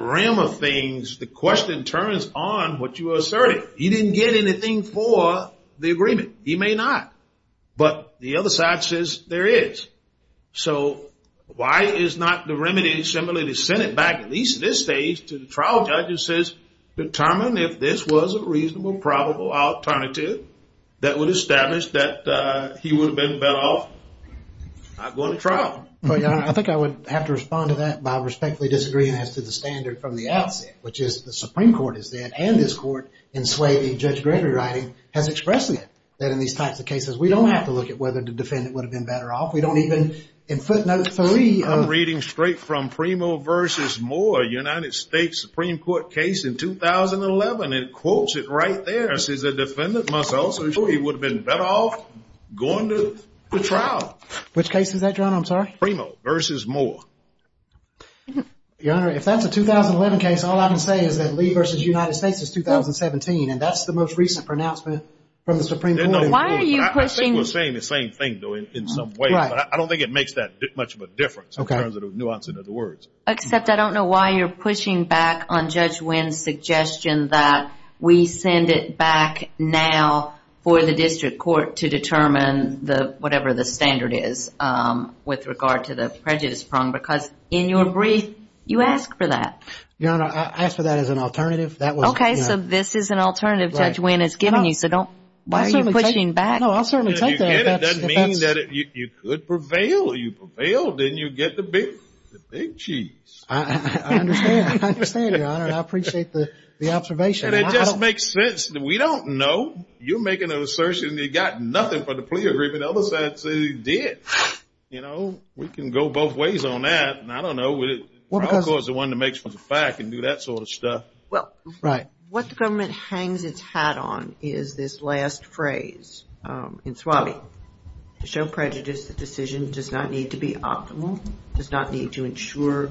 realm of things, the question turns on what you asserted. He didn't get anything for the agreement. He may not. But the other side says there is. So why is not the remedy similarly to send it back at least at this stage to the trial judge that says determine if this was a reasonable, probable alternative that would establish that he would have been better off not going to trial? I think I would have to respond to that by respectfully disagreeing as to the standard from the outset, which is the Supreme Court has said, and this court, in swaying Judge Gregory's writing, has expressed that in these types of cases we don't have to look at whether the defendant would have been better off. We don't even, in footnote three. I'm reading straight from Primo v. Moore, United States Supreme Court case in 2011. It quotes it right there. It says the defendant must also show he would have been better off going to trial. Which case is that, John? I'm sorry. Primo v. Moore. Your Honor, if that's a 2011 case, all I can say is that Lee v. United States is 2017, and that's the most recent pronouncement from the Supreme Court. I think we're saying the same thing, though, in some way, but I don't think it makes that much of a difference in terms of the nuance of the words. Except I don't know why you're pushing back on Judge Wynn's suggestion that we send it back now for the district court to determine whatever the standard is with regard to the prejudice prong, because in your brief, you asked for that. Your Honor, I asked for that as an alternative. Okay, so this is an alternative Judge Wynn has given you. Why are you pushing back? I'll certainly take that. It doesn't mean that you could prevail. You prevailed, and you get the big cheese. I understand, Your Honor, and I appreciate the observation. It just makes sense. We don't know. You're making an assertion that you got nothing for the plea agreement. The other side says you did. You know, we can go both ways on that, and I don't know. The probable cause is the one that makes for the fact and do that sort of stuff. Well, what the government hangs its hat on is this last phrase in SWABI. To show prejudice, the decision does not need to be optimal. It does not need to ensure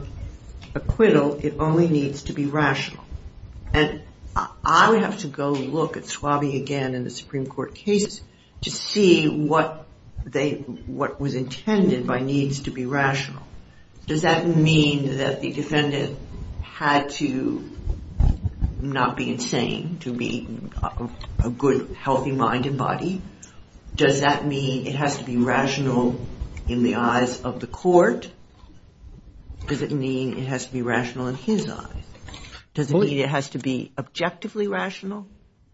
acquittal. It only needs to be rational, and I would have to go look at SWABI again in the Supreme Court cases to see what was intended by needs to be rational. Does that mean that the defendant had to not be insane to be a good, healthy-minded body? Does that mean it has to be rational in the eyes of the court? Does it mean it has to be rational in his eyes? Does it mean it has to be objectively rational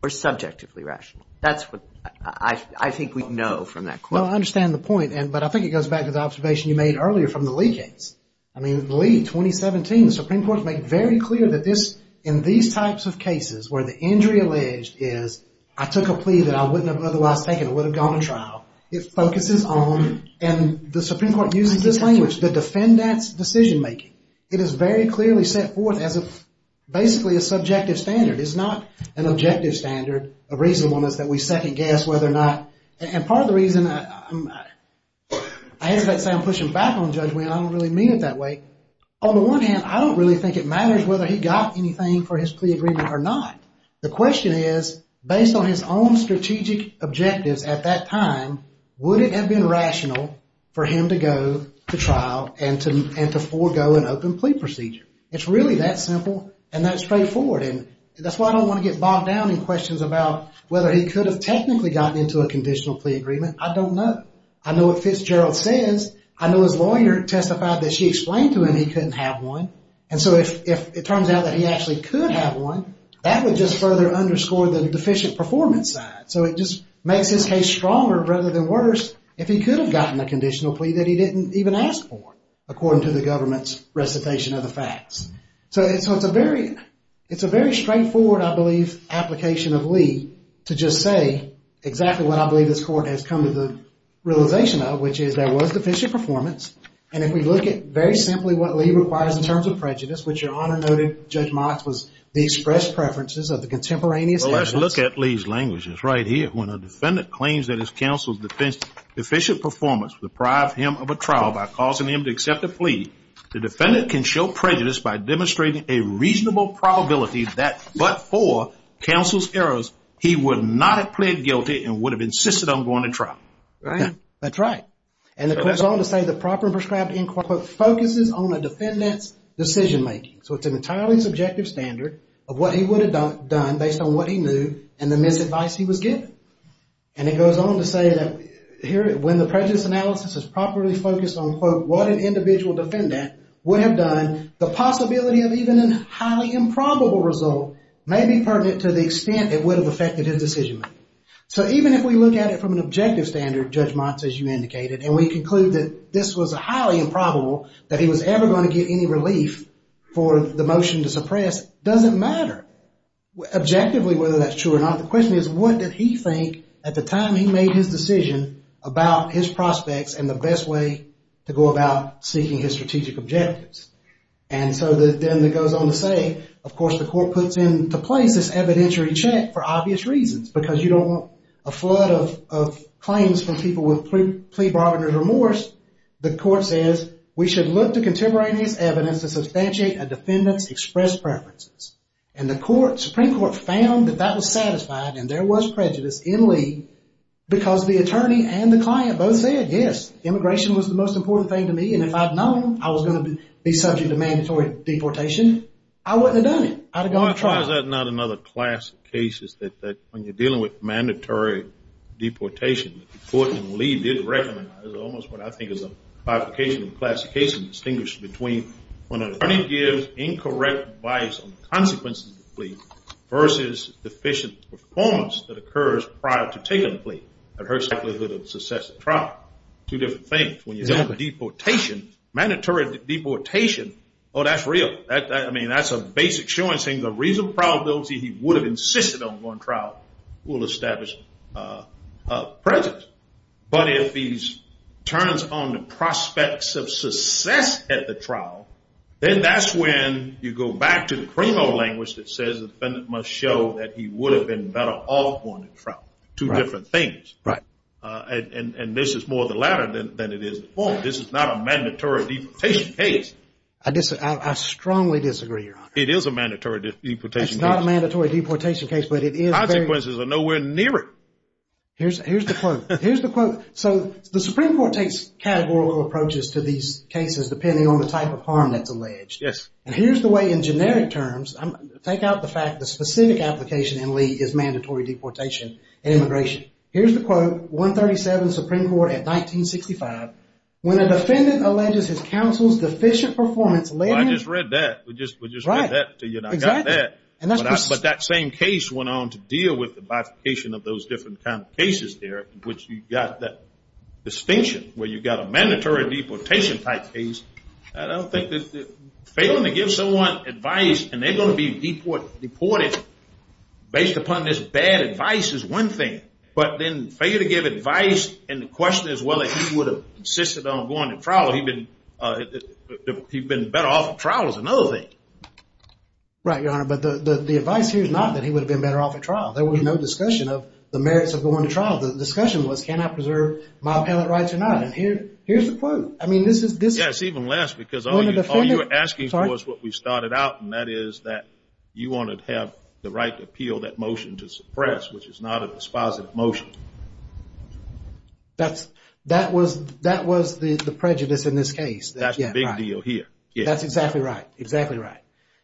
or subjectively rational? That's what I think we know from that court. Well, I understand the point, but I think it goes back to the observation you made earlier from the Lee case. I mean, Lee, 2017. The Supreme Court made very clear that in these types of cases where the injury alleged is I took a plea that I wouldn't have otherwise taken. I would have gone to trial. It focuses on, and the Supreme Court uses this language, the defendant's decision-making. It is very clearly set forth as basically a subjective standard. It's not an objective standard. A reasonableness that we second-guess whether or not, and part of the reason, I hesitate to say I'm pushing back on Judge Winn. I don't really mean it that way. On the one hand, I don't really think it matters whether he got anything for his plea agreement or not. The question is, based on his own strategic objectives at that time, would it have been rational for him to go to trial and to forego an open plea procedure? It's really that simple and that straightforward. That's why I don't want to get bogged down in questions about whether he could have technically gotten into a conditional plea agreement. I don't know. I know what Fitzgerald says. I know his lawyer testified that she explained to him he couldn't have one. And so if it turns out that he actually could have one, that would just further underscore the deficient performance side. So it just makes his case stronger rather than worse if he could have gotten a conditional plea that he didn't even ask for, according to the government's recitation of the facts. So it's a very straightforward, I believe, application of Lee to just say exactly what I believe this Court has come to the realization of, which is there was deficient performance. And if we look at very simply what Lee requires in terms of prejudice, which Your Honor noted Judge Mox was the expressed preferences of the contemporaneous evidence. Well, let's look at Lee's language. It's right here. When a defendant claims that his counsel's deficient performance deprived him of a trial by causing him to accept a plea, the defendant can show prejudice by demonstrating a reasonable probability that but for counsel's errors, he would not have pled guilty and would have insisted on going to trial. Right. That's right. And it goes on to say the proper and prescribed inquiry focuses on a defendant's decision making. So it's an entirely subjective standard of what he would have done based on what he knew and the misadvice he was given. And it goes on to say that when the prejudice analysis is properly focused on what an individual defendant would have done, the possibility of even a highly improbable result may be pertinent to the extent it would have affected his decision making. So even if we look at it from an objective standard, Judge Mox, as you indicated, and we conclude that this was highly improbable, that he was ever going to get any relief for the motion to suppress, it doesn't matter objectively whether that's true or not. The question is what did he think at the time he made his decision about his prospects and the best way to go about seeking his strategic objectives. And so then it goes on to say, of course, the court puts into place this evidentiary check for obvious reasons because you don't want a flood of claims from people with plea bargainers remorse. The court says we should look to contemporaneous evidence to substantiate a defendant's expressed preferences. And the Supreme Court found that that was satisfied and there was prejudice in Lee because the attorney and the client both said, yes, immigration was the most important thing to me, and if I'd known I was going to be subject to mandatory deportation, I wouldn't have done it. I'd have gone to trial. Why is that not another class of cases that when you're dealing with mandatory deportation, the court in Lee did recognize almost what I think is a bifurcation of the class of cases and distinguish between when an attorney gives incorrect advice on the consequences of the plea versus deficient performance that occurs prior to taking the plea. That hurts the likelihood of success at trial. Two different things. When you have a deportation, mandatory deportation, oh, that's real. I mean, that's a basic showing saying the reasonable probability he would have insisted on going to trial will establish prejudice. But if he turns on the prospects of success at the trial, then that's when you go back to the CREMO language that says the defendant must show that he would have been better off going to trial. Two different things. Right. And this is more the latter than it is the former. This is not a mandatory deportation case. I strongly disagree, Your Honor. It is a mandatory deportation case. It's not a mandatory deportation case, but it is very. The consequences are nowhere near it. Here's the quote. Here's the quote. So the Supreme Court takes categorical approaches to these cases depending on the type of harm that's alleged. Yes. And here's the way in generic terms. Take out the fact the specific application in Lee is mandatory deportation and immigration. Here's the quote. 137 Supreme Court at 1965. When a defendant alleges his counsel's deficient performance led him. Well, I just read that. We just read that. Exactly. But that same case went on to deal with the modification of those different kinds of cases there, which you've got that distinction where you've got a mandatory deportation type case. I don't think that failing to give someone advice and they're going to be deported based upon this bad advice is one thing. But then failing to give advice and the question as well as he would have insisted on going to trial, he'd been better off at trial is another thing. Right, Your Honor. But the advice here is not that he would have been better off at trial. There would be no discussion of the merits of going to trial. The discussion was can I preserve my appellate rights or not. And here's the quote. I mean, this is. Yes, even less because all you're asking for is what we started out, and that is that you want to have the right to appeal that motion to suppress, which is not a dispositive motion. That was the prejudice in this case. That's the big deal here. That's exactly right. Exactly right.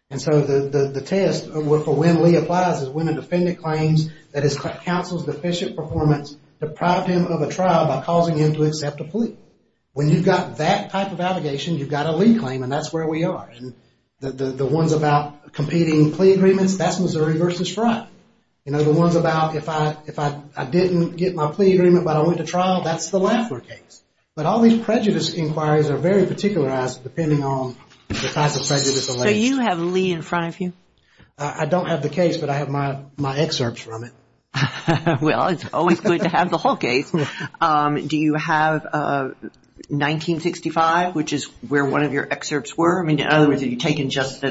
And so the test for when Lee applies is when a defendant claims that his counsel's deficient performance deprived him of a trial by causing him to accept a plea. When you've got that type of allegation, you've got a Lee claim, and that's where we are. And the ones about competing plea agreements, that's Missouri v. Frye. You know, the ones about if I didn't get my plea agreement but I went to trial, that's the Lafler case. But all these prejudice inquiries are very particularized depending on the types of prejudice alleged. So you have Lee in front of you? I don't have the case, but I have my excerpts from it. Well, it's always good to have the whole case. Do you have 1965, which is where one of your excerpts were? I mean, in other words, have you taken just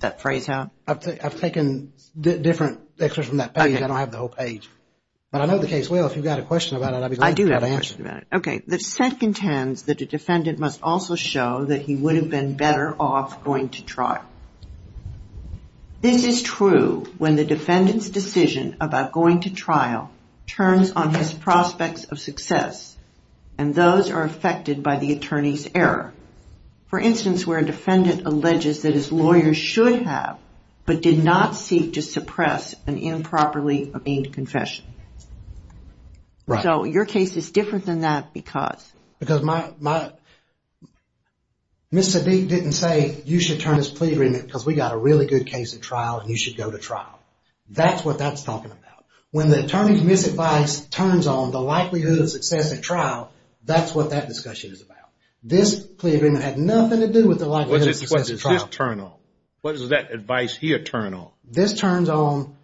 that phrase out? I've taken different excerpts from that page. I don't have the whole page. But I know the case well. If you've got a question about it, I'd be glad to answer it. Okay. The set contends that a defendant must also show that he would have been better off going to trial. This is true when the defendant's decision about going to trial turns on his prospects of success, and those are affected by the attorney's error. For instance, where a defendant alleges that his lawyer should have, but did not seek to suppress, an improperly obtained confession. Right. So your case is different than that because... Because my... Ms. Sadik didn't say, you should turn this plea agreement, because we've got a really good case at trial, and you should go to trial. That's what that's talking about. When the attorney's misadvice turns on the likelihood of success at trial, that's what that discussion is about. This plea agreement had nothing to do with the likelihood of success at trial. What does this turn on? What does that advice here turn on? This turns on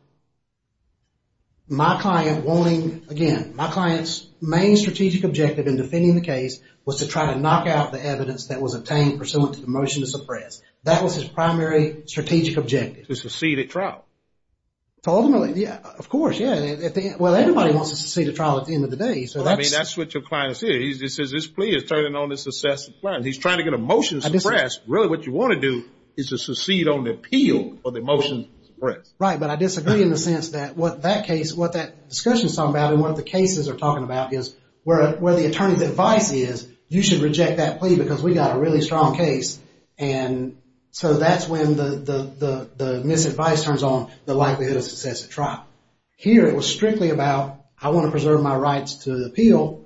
my client wanting, again, my client's main strategic objective in defending the case was to try to knock out the evidence that was obtained pursuant to the motion to suppress. That was his primary strategic objective. To succeed at trial. Ultimately, yeah. Of course, yeah. Well, everybody wants to succeed at trial at the end of the day, so that's... I mean, that's what your client is here. He says, this plea is turning on the success of the plan. He's trying to get a motion to suppress. Really, what you want to do is to succeed on the appeal of the motion to suppress. Right, but I disagree in the sense that what that case, what that discussion is talking about and what the cases are talking about is where the attorney's advice is, you should reject that plea because we got a really strong case, and so that's when the misadvice turns on the likelihood of success at trial. Here, it was strictly about I want to preserve my rights to the appeal.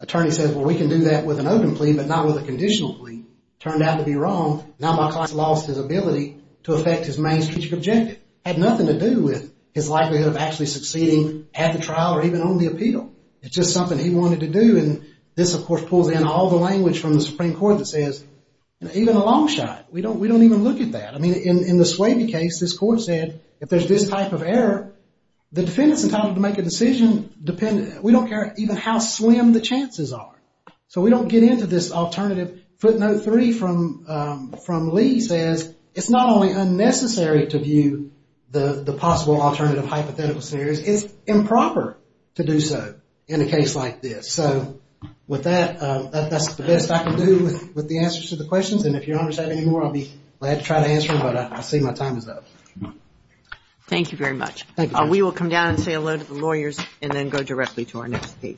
Attorney says, well, we can do that with an open plea, but not with a conditional plea. Turned out to be wrong. Now my client has lost his ability to affect his main strategic objective. It had nothing to do with his likelihood of actually succeeding at the trial or even on the appeal. It's just something he wanted to do, and this, of course, pulls in all the language from the Supreme Court that says, even a long shot, we don't even look at that. I mean, in the Swaby case, this court said, if there's this type of error, the defendant's entitled to make a decision. We don't care even how slim the chances are. So we don't get into this alternative. Footnote 3 from Lee says, it's not only unnecessary to view the possible alternative hypothetical scenarios, it's improper to do so in a case like this. So with that, that's the best I can do with the answers to the questions, and if your Honor's have any more, I'll be glad to try to answer them, but I see my time is up. Thank you very much. Thank you, Judge. We will come down and say hello to the lawyers and then go directly to our next case.